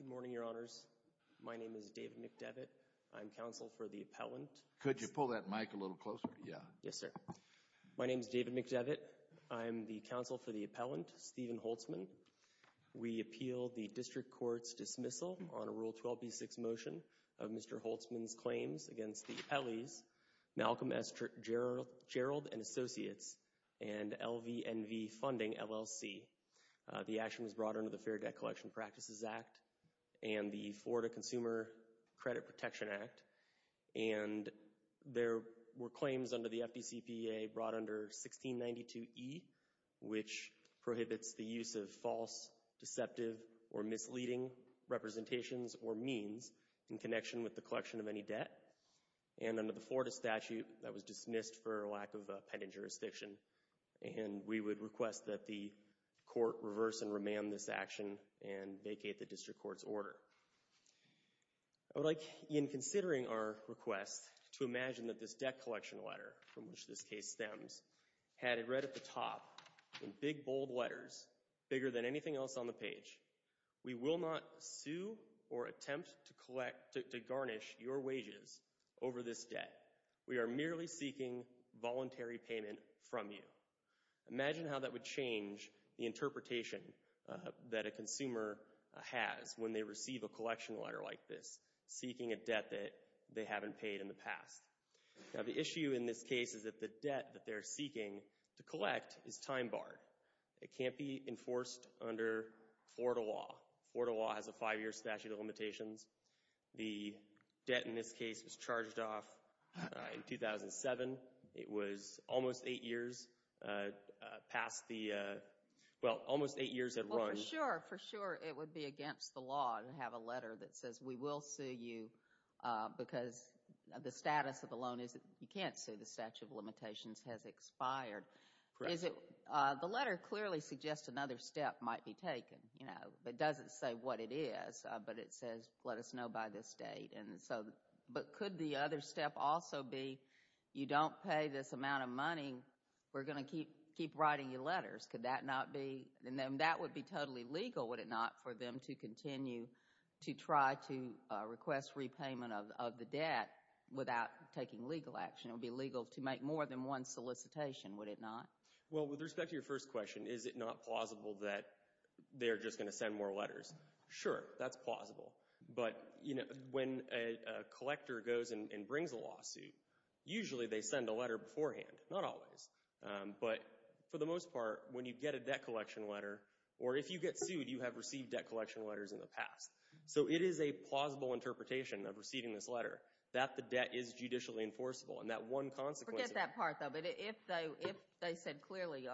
Good morning, Your Honors. My name is David McDevitt. I'm counsel for the appellant. Could you pull that mic a little closer? Yeah. Yes, sir. My name is David McDevitt. I'm the counsel for the appellant, Stephen Holzman. We appeal the district court's dismissal on a Rule 12b6 motion of Mr. Holzman's claims against the appellees, Malcolm S. Gerald & Associates, and LVNV Funding, LLC. The action was brought under the Fair Debt Collection Practices Act and the Florida Consumer Credit Protection Act. And there were claims under the FDCPA brought under 1692e, which prohibits the use of false, deceptive, or misleading representations or means in connection with the collection of any debt. And under the Florida statute, that was dismissed for lack of appended jurisdiction. And we would request that the court reverse and remand this action and vacate the district court's order. I would like, in considering our request, to imagine that this debt collection letter, from which this case stems, had it read at the top in big, bold letters, bigger than anything else on the page, we will not sue or attempt to collect, to garnish your wages over this debt. We are merely seeking voluntary payment from you. Imagine how that would change the interpretation that a consumer has when they receive a collection letter like this, seeking a debt that they haven't paid in the past. Now, the issue in this case is that the debt that they're seeking to collect is time barred. It can't be enforced under Florida law. Florida law has a five-year statute of limitations. The debt in this case was charged off in 2007. It was almost eight years past the, well, almost eight years had run. For sure, for sure, it would be against the law to have a letter that says we will sue you because the status of the loan is that you can't sue. The statute of limitations has expired. Is it, the letter clearly suggests another step might be taken, you know, but doesn't say what it is, but it says let us know by this date. And so, but could the other step also be you don't pay this amount of money, we're going to keep writing you letters. Could that not be, and then that would be totally legal, would it not, for them to continue to try to request repayment of the debt without taking legal action. It would be illegal to make more than one solicitation, would it not? Well, with respect to your first question, is it not plausible that they're just going to send more letters? Sure, that's plausible, but you know, when a collector goes and brings a lawsuit, usually they send a letter beforehand, not always. But for the most part, when you get a debt collection letter, or if you get sued, you have received debt collection letters in the past. So it is a plausible interpretation of receiving this letter that the debt is judicially enforceable and that one consequence. Forget that part though, but if they said clearly,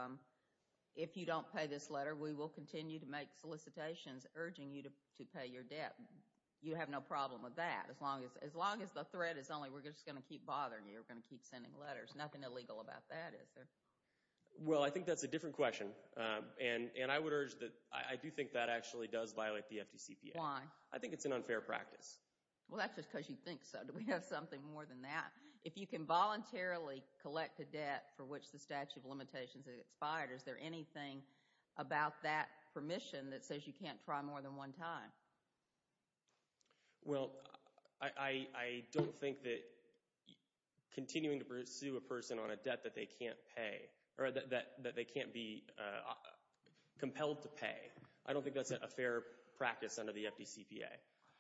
if you don't pay this urging you to pay your debt, you have no problem with that as long as, as long as the threat is only we're just going to keep bothering you, we're going to keep sending letters. Nothing illegal about that, is there? Well, I think that's a different question, and I would urge that, I do think that actually does violate the FDCPA. Why? I think it's an unfair practice. Well, that's just because you think so. Do we have something more than that? If you can voluntarily collect a debt for which the statute of limitations is expired, is there anything about that permission that says you can't try more than one time? Well, I don't think that continuing to pursue a person on a debt that they can't pay, or that they can't be compelled to pay, I don't think that's a fair practice under the FDCPA.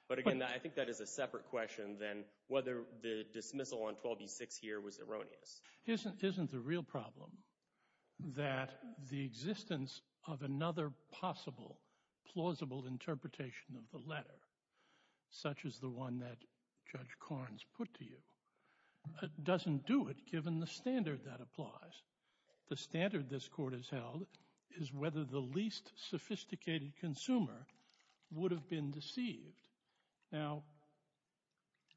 But again, I think that is a separate question than whether the dismissal on 12B6 here was erroneous. Isn't the real problem that the existence of another possible plausible interpretation of the letter, such as the one that Judge Korns put to you, doesn't do it given the standard that applies? The standard this court has held is whether the least sophisticated consumer would have been deceived. Now,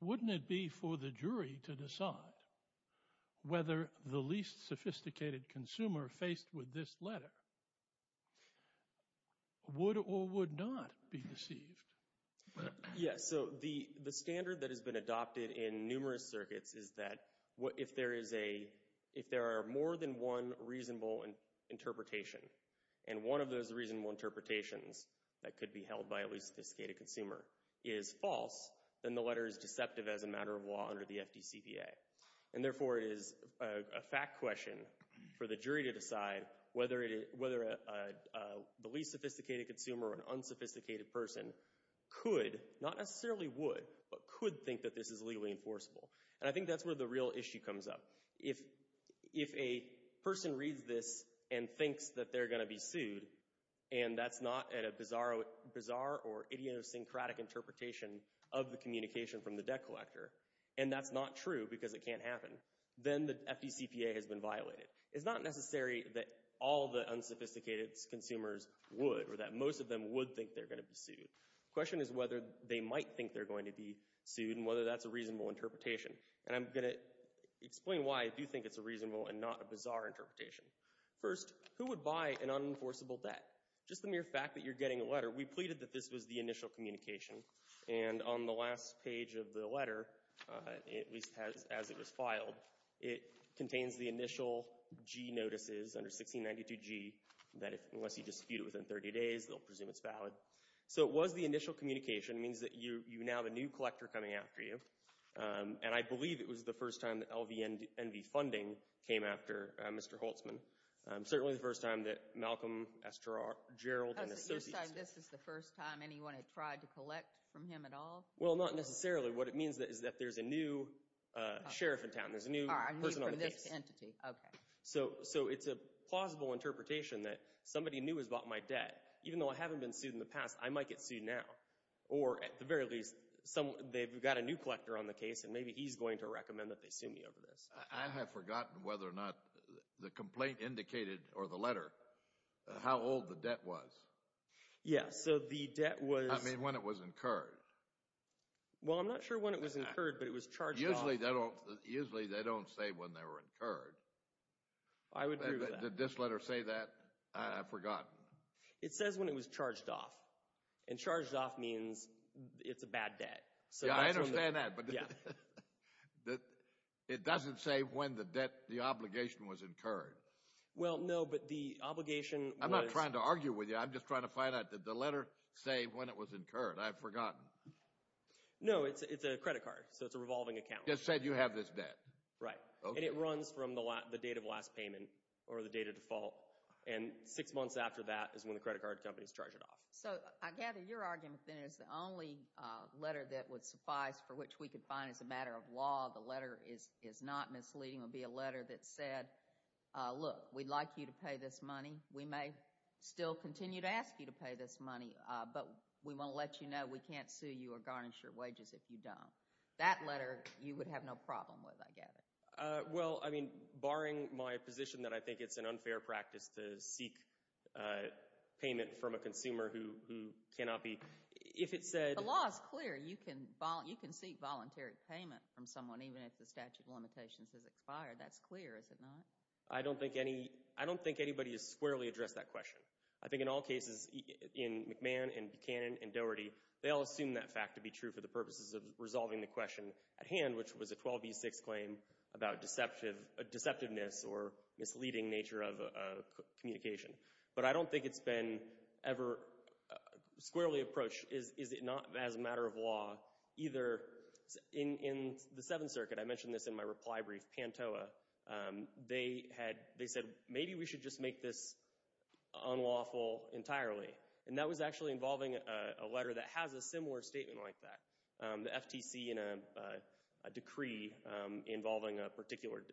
wouldn't it be for the jury to decide whether the least sophisticated consumer faced with this letter would or would not be deceived? Yes, so the standard that has been adopted in numerous circuits is that if there are more than one reasonable interpretation, and one of those reasonable interpretations that could be held by a least sophisticated consumer is false, then the letter is deceptive as a matter of law under the FDCPA. And therefore, it is a fact question for the jury to decide whether the least sophisticated consumer or an unsophisticated person could, not necessarily would, but could think that this is legally enforceable. And I think that's where the real issue comes up. If a person reads this and thinks that they're going to be sued, and that's not at a bizarre or idiosyncratic interpretation of the communication from the debt collector, and that's not true because it can't happen, then the FDCPA has been violated. It's not necessary that all the unsophisticated consumers would or that most of them would think they're going to be sued. The question is whether they might think they're going to be sued and whether that's a reasonable interpretation. And I'm going to explain why I do think it's a reasonable and not a bizarre interpretation. First, who would buy an unenforceable debt? Just the mere fact that you're getting a letter. We pleaded that this was the initial communication. And on the last page of the letter, at least as it was filed, it contains the initial G notices under 1692G that if unless you dispute it within 30 days, they'll presume it's valid. So it was the initial communication. It means that you now have a new collector coming after you, and I believe it was the first time that LVNV funding came after Mr. Holtzman. Certainly the first time that Malcolm S. Gerald and Associates... Does it say this is the first time anyone had tried to collect from him at all? Well, not necessarily. What it means is that there's a new sheriff in town. There's a new person on the case. A new entity, okay. So it's a plausible interpretation that somebody new has bought my debt. Even though I haven't been sued now. Or at the very least, they've got a new collector on the case, and maybe he's going to recommend that they sue me over this. I have forgotten whether or not the complaint indicated, or the letter, how old the debt was. Yeah, so the debt was... I mean, when it was incurred. Well, I'm not sure when it was incurred, but it was charged off. Usually they don't say when they were incurred. Did this letter say that? I've forgotten. It says when it was charged off. And charged off means it's a bad debt. Yeah, I understand that, but it doesn't say when the debt, the obligation was incurred. Well, no, but the obligation was... I'm not trying to argue with you. I'm just trying to find out, did the letter say when it was incurred? I've forgotten. No, it's a credit card. So it's a revolving account. It said you have this debt. Right. And it runs from the date of last payment, or the date of default. And six months after that is when the credit card company's charged it off. So I gather your argument, then, is the only letter that would suffice, for which we could find as a matter of law, the letter is not misleading, would be a letter that said, look, we'd like you to pay this money. We may still continue to ask you to pay this money, but we won't let you know. We can't sue you or garnish your wages if you don't. That letter you would have no problem with, I gather. Well, I mean, barring my position that I think it's an unfair practice to seek payment from a consumer who cannot be... If it said... The law is clear. You can seek voluntary payment from someone, even if the statute of limitations has expired. That's clear, is it not? I don't think anybody has squarely addressed that question. I think in all cases, in McMahon and Buchanan and Doherty, they all assume that fact to be true for the purposes of resolving the question at hand, which was a 12B6 claim about deceptiveness or misleading nature of communication. But I don't think it's been ever squarely approached, is it not, as a matter of law, either in the Seventh Circuit, I mentioned this in my reply brief, Pantoa, they had... They said, maybe we should just make this unlawful entirely. And that was actually involving a letter that has a similar statement like that. The FTC, in a decree involving a particular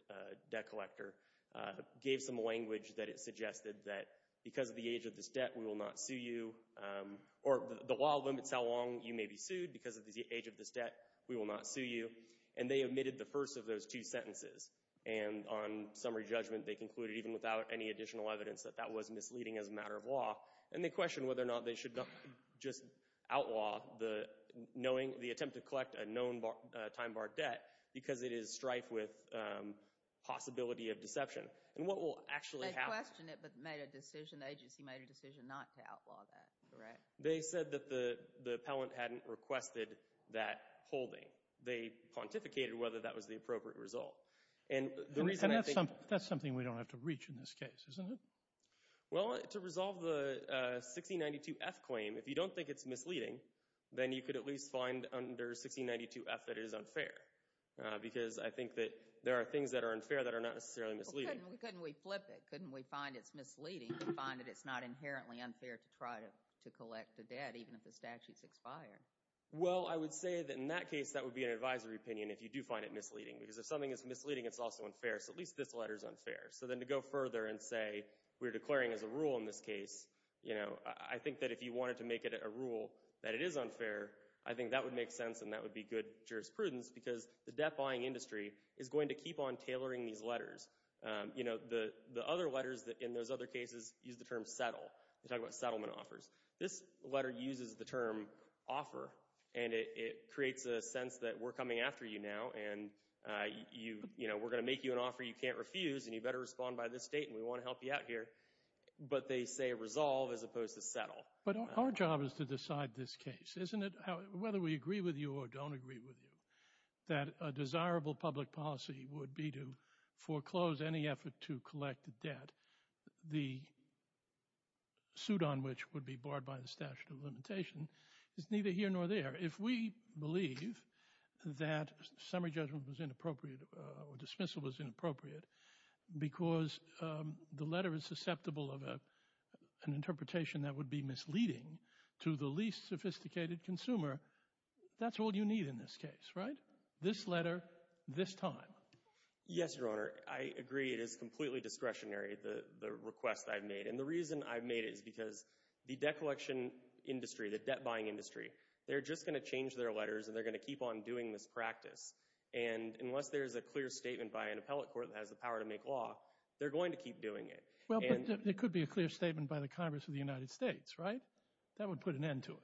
debt collector, gave some language that it suggested that because of the age of this debt, we will not sue you. Or the law limits how long you may be sued because of the age of this debt. We will not sue you. And they omitted the first of those two sentences. And on summary judgment, they concluded, even without any additional evidence, that that was misleading as a matter of law. And they questioned whether or not they should just outlaw the knowing... attempt to collect a known time bar debt because it is strife with possibility of deception. And what will actually happen... They questioned it but made a decision, the agency made a decision not to outlaw that, correct? They said that the appellant hadn't requested that holding. They pontificated whether that was the appropriate result. And that's something we don't have to reach in this case, isn't it? Well, to resolve the 1692F claim, if you don't think it's misleading, then you could at least find under 1692F that it is unfair. Because I think that there are things that are unfair that are not necessarily misleading. Couldn't we flip it? Couldn't we find it's misleading and find that it's not inherently unfair to try to collect a debt even if the statute's expired? Well, I would say that in that case, that would be an advisory opinion if you do find it misleading. Because if something is misleading, it's also unfair. So at least this letter is unfair. So then to go further and say, we're declaring as a rule in this case, I think that if you wanted to make it a rule that it is unfair, I think that would make sense and that would be good jurisprudence. Because the debt-buying industry is going to keep on tailoring these letters. The other letters in those other cases use the term settle. They talk about settlement offers. This letter uses the term offer. And it creates a sense that we're coming after you now. And we're going to make you an offer you can't refuse. And you better respond by this date. And we want to help you out here. But they say resolve as opposed to settle. But our job is to decide this case, isn't it? Whether we agree with you or don't agree with you, that a desirable public policy would be to foreclose any effort to collect a debt. The suit on which would be barred by the statute of limitation is neither here nor there. If we believe that summary judgment was inappropriate or dismissal was inappropriate, because the letter is susceptible of an interpretation that would be misleading to the least sophisticated consumer, that's all you need in this case, right? This letter, this time. Yes, Your Honor. I agree it is completely discretionary, the request I've made. And the reason I've made it is because the debt collection industry, the debt-buying industry, they're just going to change their letters and they're going to keep on doing this practice. And unless there's a clear statement by an appellate court that has the power to make law, they're going to keep doing it. Well, it could be a clear statement by the Congress of the United States, right? That would put an end to it.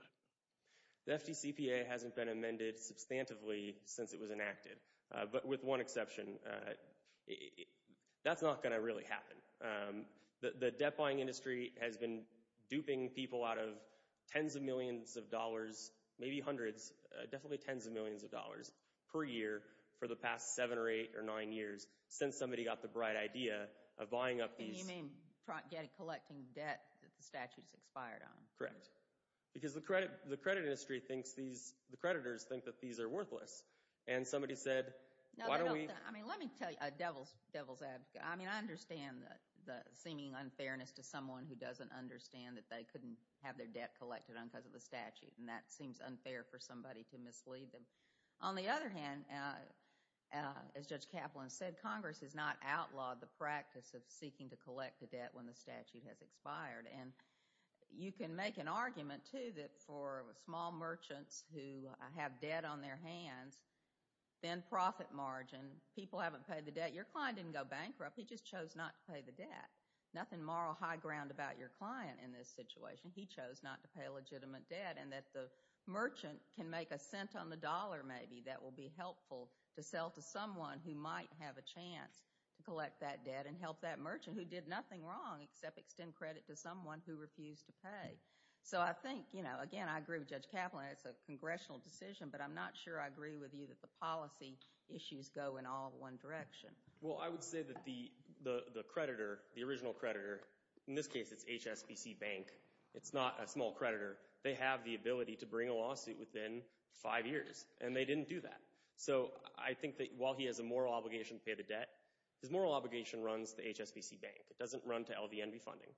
The FDCPA hasn't been amended substantively since it was enacted. But with one exception, that's not going to really happen. The debt-buying industry has been duping people out of tens of millions of dollars, maybe hundreds, definitely tens of millions of dollars per year for the past seven or eight or nine years, since somebody got the bright idea of buying up these- You mean collecting debt that the statute has expired on. Correct. Because the credit industry thinks these, the creditors think that these are worthless. And somebody said, why don't we- I mean, let me tell you, devil's advocate. I mean, I understand the seeming unfairness to someone who doesn't understand that they couldn't have their debt collected on because of the statute. And that seems unfair for somebody to mislead them. On the other hand, as Judge Kaplan said, Congress has not outlawed the practice of seeking to collect the debt when the statute has expired. And you can make an argument, too, that for small merchants who have debt on their hands, thin profit margin, people haven't paid the debt. Your client didn't go bankrupt. He just chose not to pay the debt. Nothing moral high ground about your client in this situation. He chose not to pay legitimate debt. And that the merchant can make a cent on the dollar, maybe, that will be helpful to sell to someone who might have a chance to collect that debt and help that merchant who did nothing wrong except extend credit to someone who refused to pay. So I think, you know, again, I agree with Judge Kaplan. It's a congressional decision. But I'm not sure I agree with you that the policy issues go in all one direction. Well, I would say that the creditor, the original creditor, in this case, it's HSBC Bank. It's not a small creditor. They have the ability to bring a lawsuit within five years. And they didn't do that. So I think that while he has a moral obligation to pay the debt, his moral obligation runs the HSBC Bank. It doesn't run to LVNB funding.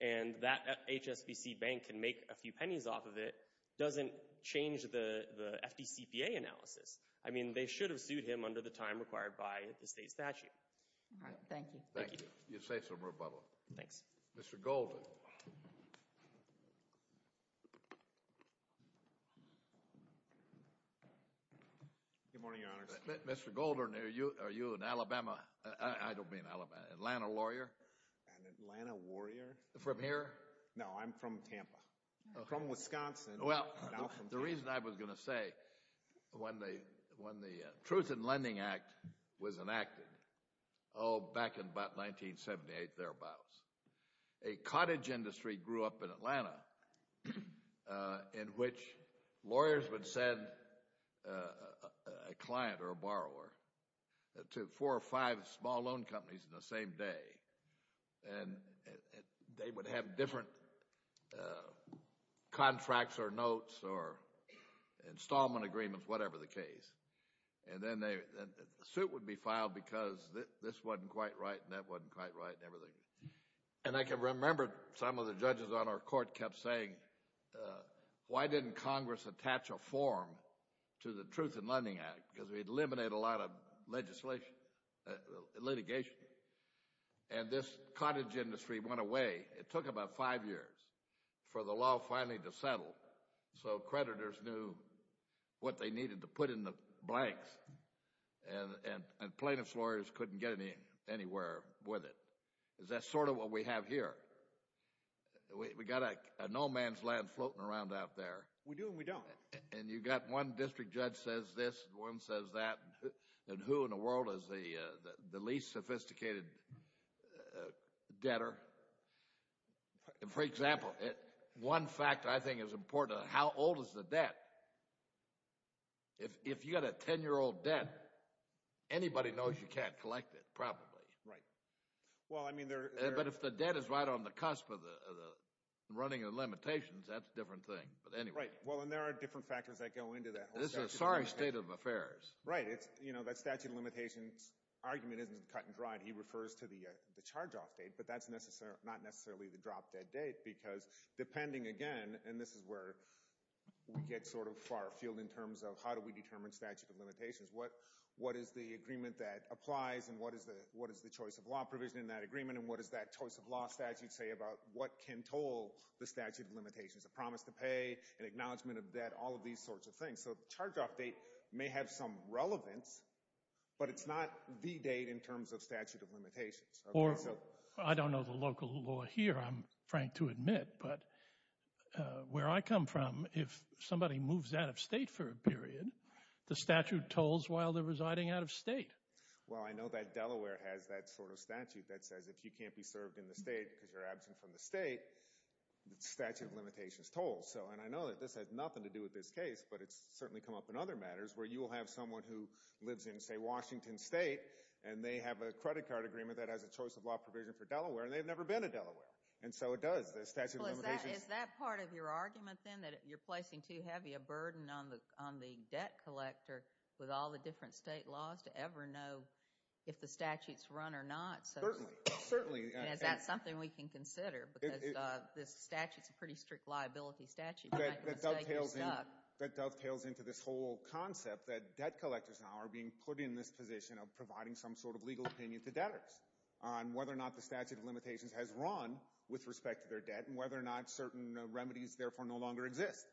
And that HSBC Bank can make a few pennies off of it doesn't change the FDCPA analysis. I mean, they should have sued him under the time required by the state statute. All right. Thank you. Thank you. You say some rebuttal. Thanks. Mr. Golden. Good morning, Your Honor. Mr. Golden, are you an Alabama? I don't mean Alabama. Atlanta lawyer? An Atlanta warrior. From here? No, I'm from Tampa. From Wisconsin. Well, the reason I was going to say when the Truth in Lending Act was enacted, oh, back in about 1978, thereabouts, a cottage industry grew up in Atlanta in which lawyers would send a client or a borrower to four or five small loan companies in the same day. And they would have different contracts or notes or installment agreements, whatever the case. And then a suit would be filed because this wasn't quite right and that wasn't quite right and everything. And I can remember some of the judges on our court kept saying, why didn't Congress attach a form to the Truth in Lending Act? Because we'd eliminate a lot of litigation. And this cottage industry went away. It took about five years for the law finally to settle so creditors knew what they needed to put in the blanks and plaintiff's lawyers couldn't get anywhere with it. Is that sort of what we have here? We got an old man's land floating around out there. We do and we don't. And you got one district judge says this, one says that, and who in the world is the least sophisticated debtor? For example, one fact I think is important, how old is the debt? If you got a 10-year-old debt, anybody knows you can't collect it, probably. Right. Well, I mean there... But if the debt is right on the cusp of the running of limitations, that's a different thing, but anyway. Well, and there are different factors that go into that. This is a sorry state of affairs. Right. You know, that statute of limitations argument isn't cut and dried. He refers to the charge-off date, but that's not necessarily the drop-dead date because depending again, and this is where we get sort of far afield in terms of how do we determine statute of limitations? What is the agreement that applies? And what is the choice of law provision in that agreement? And what does that choice of law statute say about what can toll the statute of limitations? A promise to pay, an acknowledgement of debt, all of these sorts of things. So the charge-off date may have some relevance, but it's not the date in terms of statute of limitations. I don't know the local law here, I'm frank to admit, but where I come from, if somebody moves out of state for a period, the statute tolls while they're residing out of state. Well, I know that Delaware has that sort of statute that says if you can't be served in the state because you're absent from the state, the statute of limitations tolls. So, and I know that this has nothing to do with this case, but it's certainly come up in other matters where you will have someone who lives in, say, Washington state, and they have a credit card agreement that has a choice of law provision for Delaware, and they've never been to Delaware. And so it does. Is that part of your argument then, that you're placing too heavy a burden on the debt collector with all the different state laws to ever know if the statute's run or not? Certainly. Certainly. And is that something we can consider? Because this statute's a pretty strict liability statute. That dovetails into this whole concept that debt collectors now are being put in this position of providing some sort of legal opinion to debtors on whether or not the statute of limitations has run with respect to their debt, and whether or not certain remedies therefore no longer exist.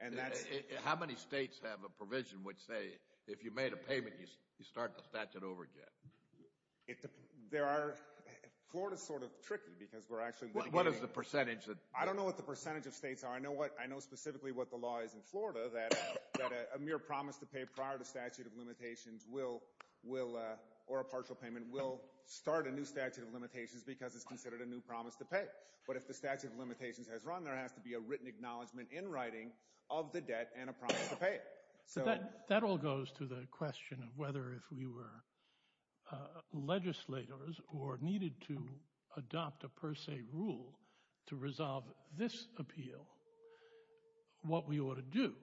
And that's... How many states have a provision which say, if you made a payment, you start the statute over again? There are... Florida's sort of tricky because we're actually... What is the percentage that... I don't know what the percentage of states are. I know what, I know specifically what the law is in Florida, that a mere promise to pay prior to statute of limitations will, or a partial payment, will start a new statute of limitations because it's considered a new promise to pay. But if the statute of limitations has run, there has to be a written acknowledgement in writing of the debt and a promise to pay it. So... That all goes to the question of whether if we were legislators or needed to adopt a per se rule to resolve this appeal, what we ought to do.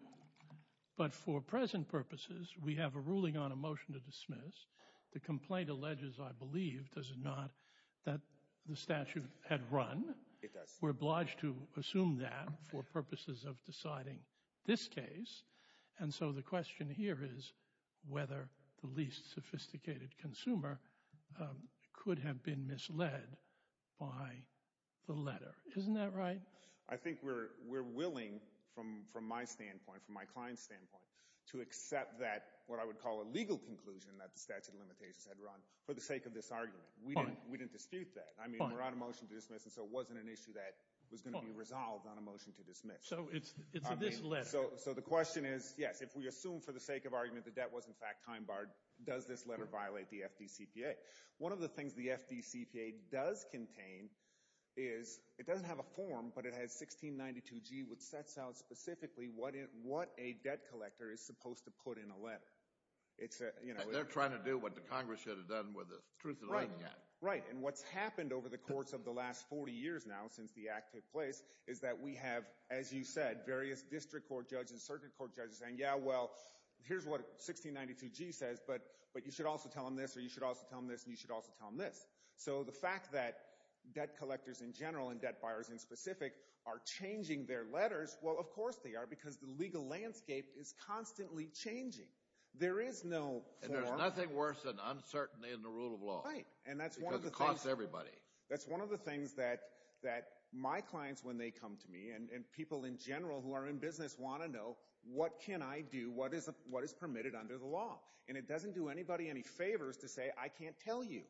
But for present purposes, we have a ruling on a motion to dismiss. The complaint alleges, I believe, does it not, that the statute had run? It does. We're obliged to assume that for purposes of deciding this case. And so the question here is whether the least sophisticated consumer could have been misled by the letter. Isn't that right? I think we're willing, from my standpoint, from my client's standpoint, to accept that, what I would call a legal conclusion, that the statute of limitations had run for the sake of this argument. We didn't dispute that. I mean, we're on a motion to dismiss, and so it wasn't an issue that was going to be resolved on a motion to dismiss. So it's this letter. So the question is, yes, if we assume for the sake of argument the debt was in fact time barred, does this letter violate the FDCPA? One of the things the FDCPA does contain is it doesn't have a form, but it has 1692G, which sets out specifically what a debt collector is supposed to put in a letter. They're trying to do what the Congress should have done with the Truth in Writing Act. Right. And what's happened over the course of the last 40 years now, since the act took place, is that we have, as you said, various district court judges, circuit court judges saying, yeah, well, here's what 1692G says, but you should also tell them this, or you should also tell them this, and you should also tell them this. So the fact that debt collectors in general, and debt buyers in specific, are changing their letters, well, of course they are, because the legal landscape is constantly changing. There is no form. And there's nothing worse than uncertainty in the rule of law. Right. Because it costs everybody. That's one of the things that my clients, when they come to me, and people in general who are in business, want to know what can I do, what is permitted under the law. And it doesn't do anybody any favors to say, I can't tell you.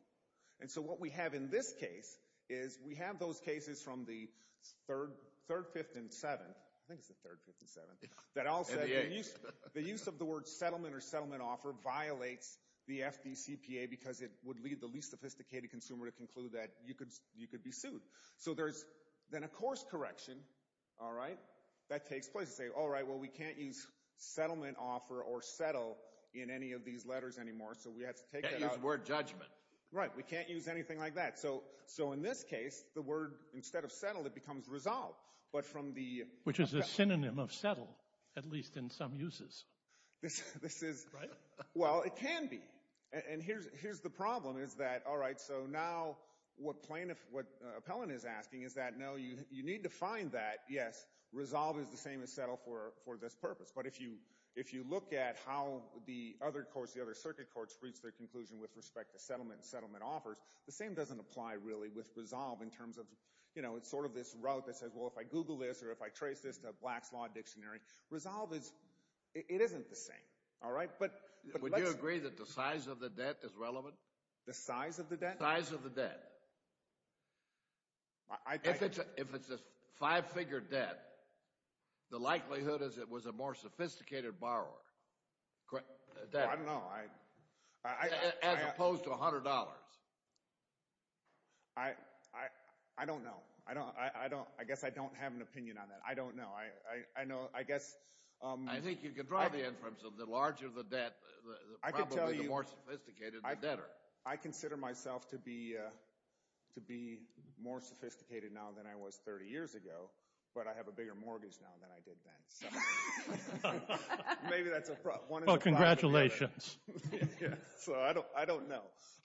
And so what we have in this case is we have those cases from the third, fifth, and seventh, I think it's the third, fifth, and seventh, that all said the use of the word settlement or settlement offer violates the FDCPA because it would lead the least sophisticated consumer to conclude that you could be sued. So there's then a course correction, all right, that takes place. You say, all right, well, we can't use settlement offer or settle in any of these letters anymore. So we have to take that out. Can't use the word judgment. Right. We can't use anything like that. So in this case, the word, instead of settle, it becomes resolve. But from the- Which is a synonym of settle, at least in some uses. This is- Right. Well, it can be. And here's the problem is that, all right, so now what Appellant is asking is that, no, you need to find that, yes, resolve is the same as settle for this purpose. But if you look at how the other courts, the other circuit courts, reach their conclusion with respect to settlement and settlement offers, the same doesn't apply really with resolve in terms of, you know, it's sort of this route that says, well, if I Google this or if I trace this to Black's Law Dictionary, resolve is, it isn't the same, all right? But let's- The size of the debt is relevant? The size of the debt? Size of the debt. If it's a five-figure debt, the likelihood is it was a more sophisticated borrower. I don't know. As opposed to $100. I don't know. I guess I don't have an opinion on that. I don't know. I know, I guess- I think you can draw the inference of the larger the debt, probably the more sophisticated the debtor. I consider myself to be more sophisticated now than I was 30 years ago, but I have a bigger mortgage now than I did then. Maybe that's a problem. Well, congratulations. So I don't know.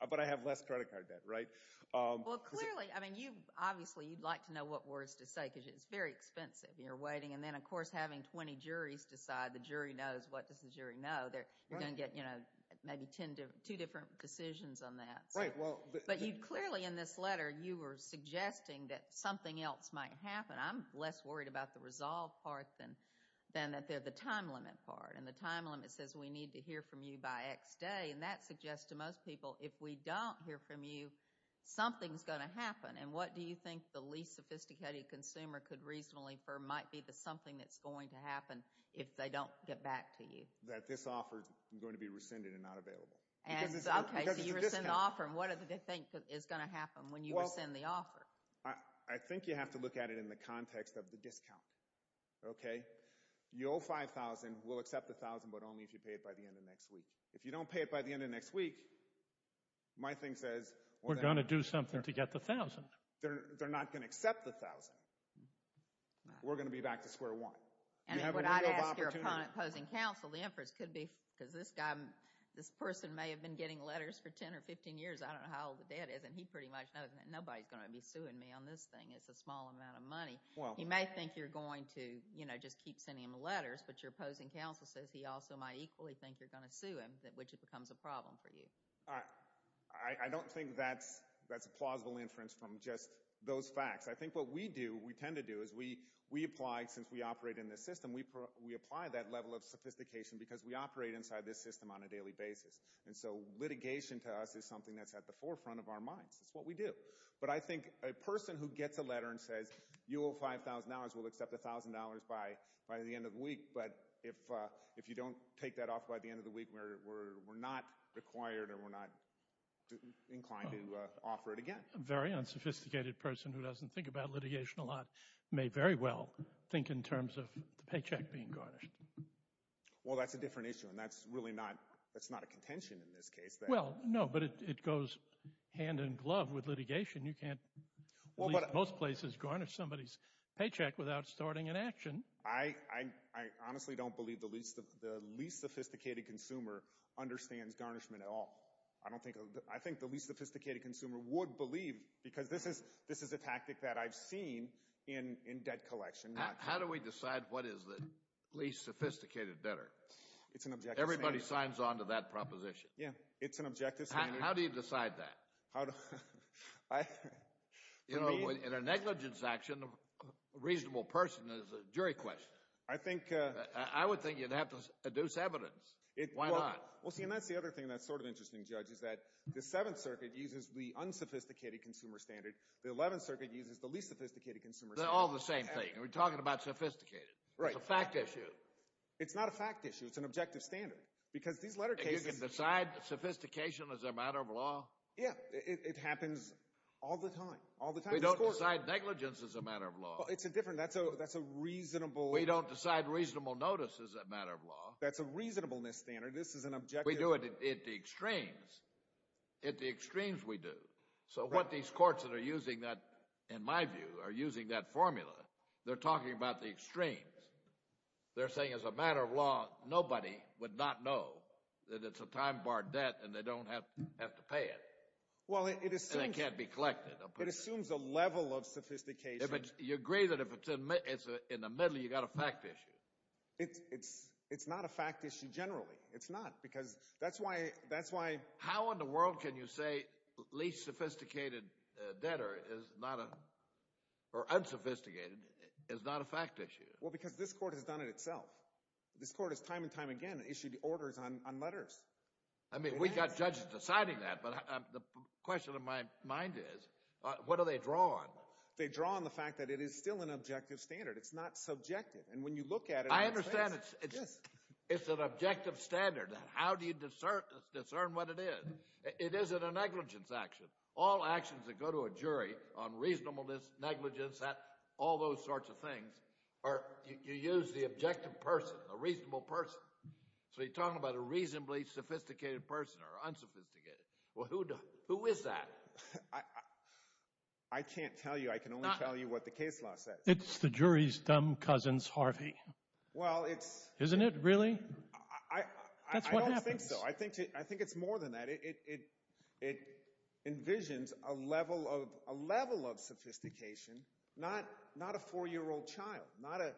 But I have less credit card debt, right? Well, clearly, I mean, you obviously, you'd like to know what words to say because it's very expensive and you're waiting. And then, of course, having 20 juries decide, the jury knows, what does the jury know? You're going to get maybe two different decisions on that. But clearly, in this letter, you were suggesting that something else might happen. I'm less worried about the resolve part than the time limit part. And the time limit says, we need to hear from you by X day. And that suggests to most people, if we don't hear from you, something's going to happen. And what do you think the least sophisticated consumer could reasonably infer might be the something that's going to happen if they don't get back to you? That this offer is going to be rescinded and not available. And, okay, so you rescind the offer. And what do they think is going to happen when you rescind the offer? I think you have to look at it in the context of the discount, okay? You owe $5,000. We'll accept the $1,000, but only if you pay it by the end of next week. If you don't pay it by the end of next week, my thing says, We're going to do something to get the $1,000. They're not going to accept the $1,000. We're going to be back to square one. And what I'd ask your opposing counsel, because this person may have been getting letters for 10 or 15 years. I don't know how old the dad is, and he pretty much knows that nobody's going to be suing me on this thing. It's a small amount of money. He may think you're going to just keep sending him letters, but your opposing counsel says he also might equally think you're going to sue him, which becomes a problem for you. I don't think that's a plausible inference from just those facts. I think what we do, we tend to do, is we apply, since we operate in this system, we apply that level of sophistication because we operate inside this system on a daily basis. And so litigation, to us, is something that's at the forefront of our minds. That's what we do. But I think a person who gets a letter and says, You owe $5,000. We'll accept $1,000 by the end of the week. But if you don't take that off by the end of the week, we're not required or we're not inclined to offer it again. A very unsophisticated person who doesn't think about litigation a lot may very well think in terms of the paycheck being garnished. Well, that's a different issue, and that's really not a contention in this case. Well, no, but it goes hand in glove with litigation. You can't, at least in most places, garnish somebody's paycheck without starting an action. I honestly don't believe the least sophisticated consumer understands garnishment at all. I think the least sophisticated consumer would believe, because this is a tactic that I've seen in debt collection. How do we decide what is the least sophisticated debtor? Everybody signs on to that proposition. Yeah, it's an objective standard. How do you decide that? You know, in a negligence action, a reasonable person is a jury question. I would think you'd have to adduce evidence. Why not? Well, see, and that's the other thing that's sort of interesting, Judge, is that the Seventh Circuit uses the unsophisticated consumer standard. The Eleventh Circuit uses the least sophisticated consumer standard. They're all the same thing. We're talking about sophisticated. Right. It's a fact issue. It's not a fact issue. It's an objective standard, because these letter cases— And you can decide sophistication as a matter of law? Yeah, it happens all the time. All the time. We don't decide negligence as a matter of law. It's a different—that's a reasonable— We don't decide reasonable notice as a matter of law. That's a reasonableness standard. This is an objective— We do it at the extremes. At the extremes, we do. So what these courts that are using that, in my view, are using that formula, they're talking about the extremes. They're saying as a matter of law, nobody would not know that it's a time-barred debt and they don't have to pay it. Well, it assumes— And it can't be collected. It assumes a level of sophistication. You agree that if it's in the middle, you've got a fact issue. It's not a fact issue generally. It's not, because that's why— How in the world can you say least sophisticated debtor is not a—or unsophisticated is not a fact issue? Well, because this court has done it itself. This court has time and time again issued orders on letters. I mean, we've got judges deciding that, but the question of my mind is, what do they draw on? They draw on the fact that it is still an objective standard. It's not subjective. And when you look at it— I understand it's an objective standard. How do you discern what it is? It isn't a negligence action. All actions that go to a jury on reasonableness, negligence, all those sorts of things, are—you use the objective person, a reasonable person. So you're talking about a reasonably sophisticated person or unsophisticated. Well, who is that? I can't tell you. I can only tell you what the case law says. It's the jury's dumb cousins, Harvey. Well, it's— Isn't it, really? I don't think so. I think it's more than that. It envisions a level of sophistication, not a four-year-old child, not a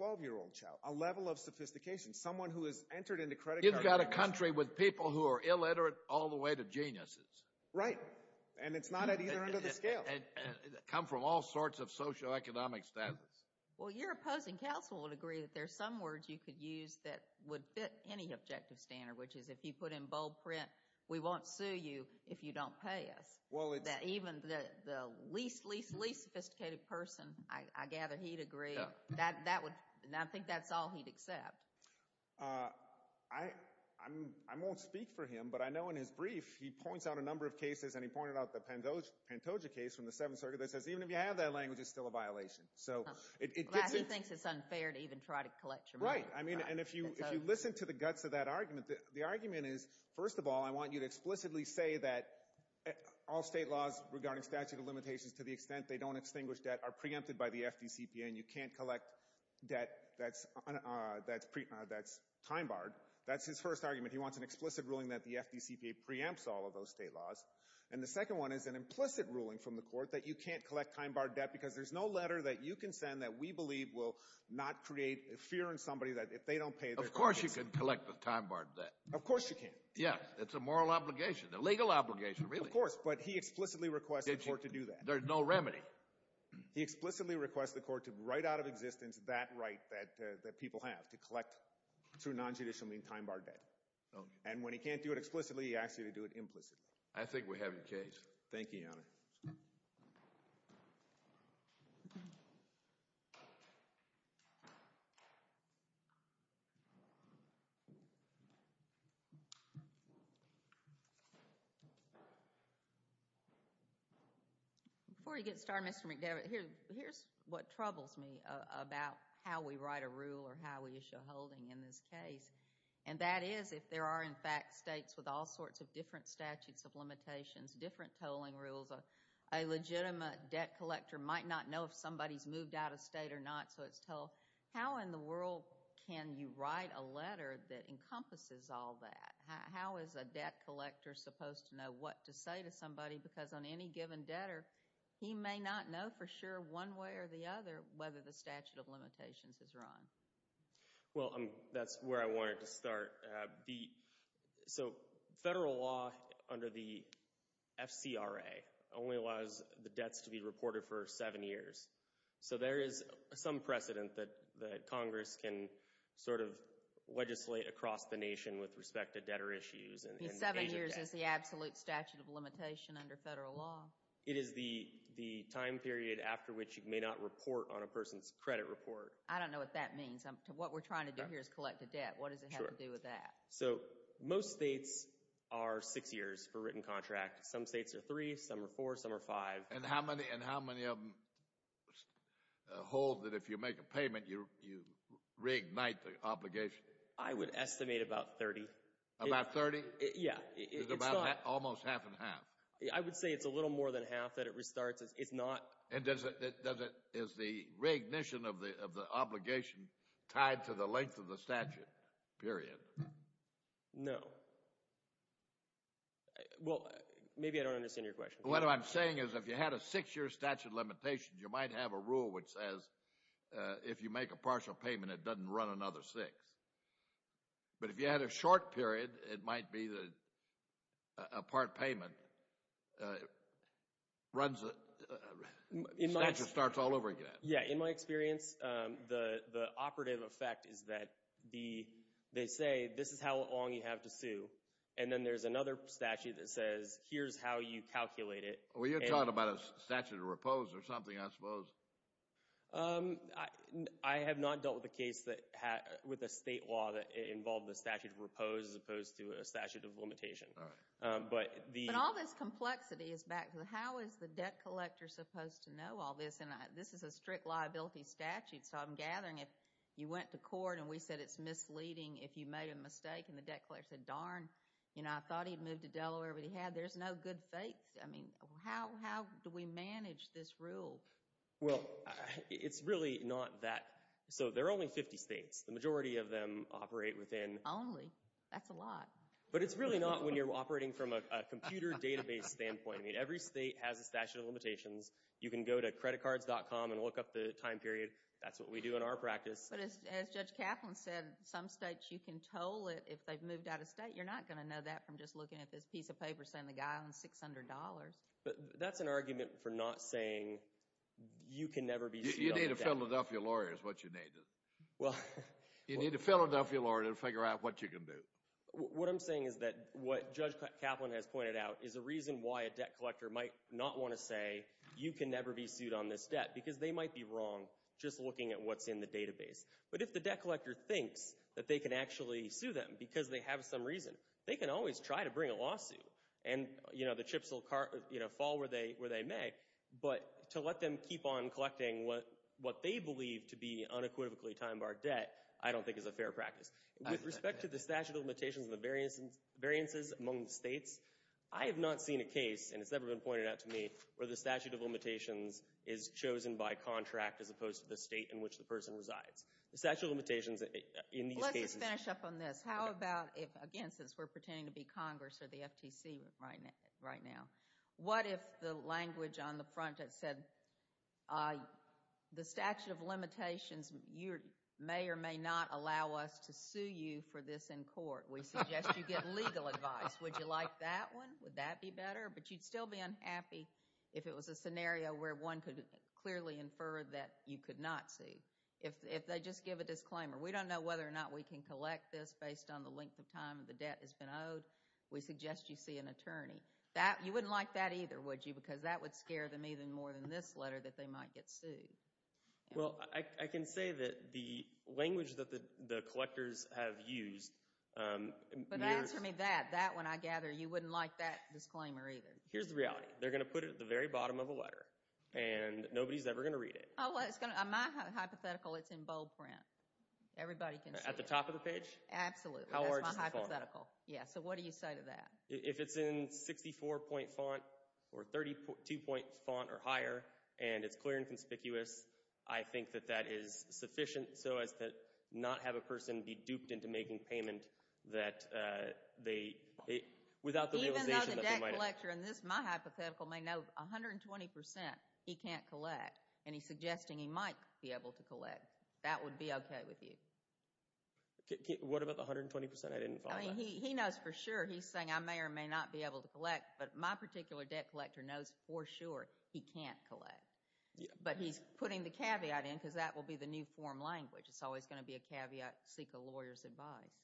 12-year-old child, a level of sophistication, someone who has entered into credit— You've got a country with people who are illiterate all the way to geniuses. Right. And it's not at either end of the scale. And come from all sorts of socioeconomic standards. Well, your opposing counsel would agree that there's some words you could use that would fit any objective standard, which is, if you put in bold print, we won't sue you if you don't pay us. Well, it's— Even the least, least, least sophisticated person, I gather he'd agree. That would—I think that's all he'd accept. I won't speak for him, but I know in his brief, he points out a number of cases, and he pointed out the Pantoja case from the Seventh Circuit that says even if you have that language, it's still a violation. So it— He thinks it's unfair to even try to collect your money. I mean, and if you listen to the guts of that argument, the argument is, first of all, I want you to explicitly say that all state laws regarding statute of limitations, to the extent they don't extinguish debt, are preempted by the FDCPA, and you can't collect debt that's time-barred. That's his first argument. He wants an explicit ruling that the FDCPA preempts all of those state laws. And the second one is an implicit ruling from the court that you can't collect time-barred debt because there's no letter that you can send that we believe will not create a fear in somebody that if they don't pay— Of course you can collect the time-barred debt. Of course you can. Yeah, it's a moral obligation, a legal obligation, really. Of course, but he explicitly requests the court to do that. There's no remedy. He explicitly requests the court to write out of existence that right that people have, to collect, through non-judicial means, time-barred debt. And when he can't do it explicitly, he asks you to do it implicitly. I think we have your case. Thank you, Your Honor. Before you get started, Mr. McDevitt, here's what troubles me about how we write a rule or how we issue a holding in this case. And that is if there are, in fact, states with all sorts of different statutes of limitations, different tolling rules, a legitimate debt collector might not know if somebody's moved out of state or not, so it's told. How in the world can you write a letter that encompasses all that? How is a debt collector supposed to know what to say to somebody? Because on any given debtor, he may not know for sure, one way or the other, whether the statute of limitations is run. Well, that's where I wanted to start. So federal law under the FCRA only allows the debts to be reported for seven years. So there is some precedent that Congress can sort of legislate across the nation with respect to debtor issues. And seven years is the absolute statute of limitation under federal law. It is the time period after which you may not report on a person's credit report. I don't know what that means. What we're trying to do here is collect a debt. What does it have to do with that? So most states are six years for written contract. Some states are three. Some are four. Some are five. And how many of them hold that if you make a payment, you reignite the obligation? I would estimate about 30. About 30? Yeah. It's about almost half and half. I would say it's a little more than half that it restarts. It's not. And is the reignition of the obligation tied to the length of the statute period? No. Well, maybe I don't understand your question. What I'm saying is if you had a six-year statute limitation, you might have a rule which says if you make a partial payment, it doesn't run another six. But if you had a short period, it might be that a part payment runs it. Statute starts all over again. Yeah. In my experience, the operative effect is that they say, this is how long you have to sue. And then there's another statute that says, here's how you calculate it. Well, you're talking about a statute of repose or something, I suppose. I have not dealt with a state law that involved the statute of repose as opposed to a statute of limitation. But all this complexity is back to how is the debt collector supposed to know all this? And this is a strict liability statute. So I'm gathering if you went to court and we said it's misleading if you made a mistake and the debt collector said, darn, I thought he'd moved to Delaware, but he had. There's no good faith. I mean, how do we manage this rule? Well, it's really not that. So there are only 50 states. The majority of them operate within. Only? That's a lot. But it's really not when you're operating from a computer database standpoint. Every state has a statute of limitations. You can go to creditcards.com and look up the time period. That's what we do in our practice. But as Judge Kaplan said, some states, you can toll it if they've moved out of state. You're not going to know that from just looking at this piece of paper saying the guy owns $600. But that's an argument for not saying you can never be sued on debt. You need to fill it up for your lawyer is what you need. You need to fill it up for your lawyer to figure out what you can do. What I'm saying is that what Judge Kaplan has pointed out is a reason why a debt collector might not want to say you can never be sued on this debt. Because they might be wrong just looking at what's in the database. But if the debt collector thinks that they can actually sue them because they have some reason, they can always try to bring a lawsuit. And the chips will fall where they may. But to let them keep on collecting what they believe to be unequivocally time-barred debt, I don't think is a fair practice. With respect to the statute of limitations and the variances among states, I have not seen a case, and it's never been pointed out to me, where the statute of limitations is chosen by contract as opposed to the state in which the person resides. The statute of limitations in these cases. Let's just finish up on this. How about if, again, since we're pretending to be Congress or the FTC right now, what if the language on the front had said, the statute of limitations may or may not allow us to sue you for this in court. We suggest you get legal advice. Would you like that one? Would that be better? But you'd still be unhappy if it was a scenario where one could clearly infer that you could not sue. If they just give a disclaimer, we don't know whether or not we can collect this based on the length of time the debt has been owed. We suggest you see an attorney. You wouldn't like that either, would you? Because that would scare them even more than this letter that they might get sued. Well, I can say that the language that the collectors have used... But answer me that. That one, I gather, you wouldn't like that disclaimer either. Here's the reality. They're going to put it at the very bottom of a letter. And nobody's ever going to read it. Oh, well, it's going to... My hypothetical, it's in bold print. Everybody can see it. At the top of the page? Absolutely. That's my hypothetical. Yeah, so what do you say to that? If it's in 64-point font or 32-point font or higher, and it's clear and conspicuous, I think that that is sufficient so as to not have a person be duped into making payment that they... Without the realization that they might... Even though the debt collector in this, my hypothetical may know 120% he can't collect. And he's suggesting he might be able to collect. That would be okay with you. What about the 120% I didn't find? He knows for sure. He's saying I may or may not be able to collect. But my particular debt collector knows for sure he can't collect. But he's putting the caveat in because that will be the new form language. It's always going to be a caveat. Seek a lawyer's advice.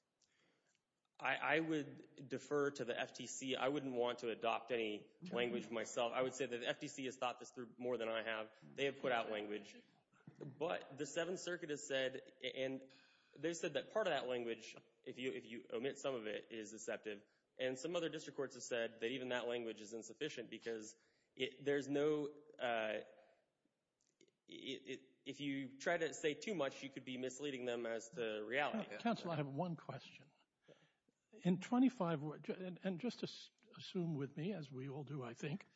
I would defer to the FTC. I wouldn't want to adopt any language myself. I would say that the FTC has thought this through more than I have. They have put out language. But the Seventh Circuit has said... They said that part of that language, if you omit some of it, is deceptive. And some other district courts have said that even that language is insufficient because there's no... If you try to say too much, you could be misleading them as to reality. Council, I have one question. In 25 words... And just assume with me, as we all do, I think,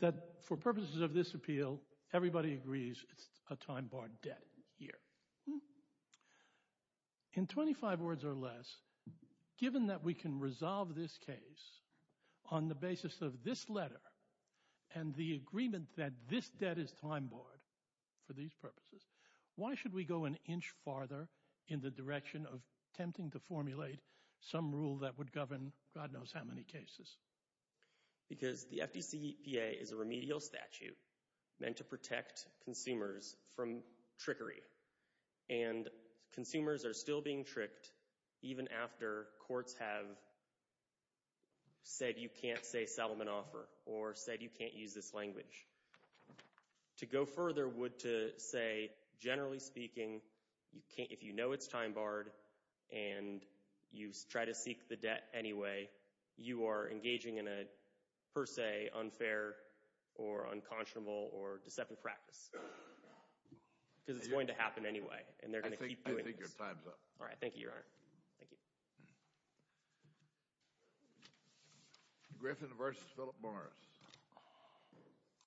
that for purposes of this appeal, everybody agrees it's a time-barred debt here. In 25 words or less, given that we can resolve this case on the basis of this letter and the agreement that this debt is time-barred for these purposes, why should we go an inch farther in the direction of attempting to formulate some rule that would govern God knows how many cases? Because the FDCPA is a remedial statute meant to protect consumers from trickery. And consumers are still being tricked even after courts have said you can't say settlement offer or said you can't use this language. To go further would to say, generally speaking, if you know it's time-barred and you try to seek the debt anyway, you are engaging in a, per se, unfair or unconscionable or deceptive practice. Because it's going to happen anyway. And they're going to keep doing this. I think your time's up. All right. Thank you, Your Honor. Thank you. Griffin versus Philip Morris.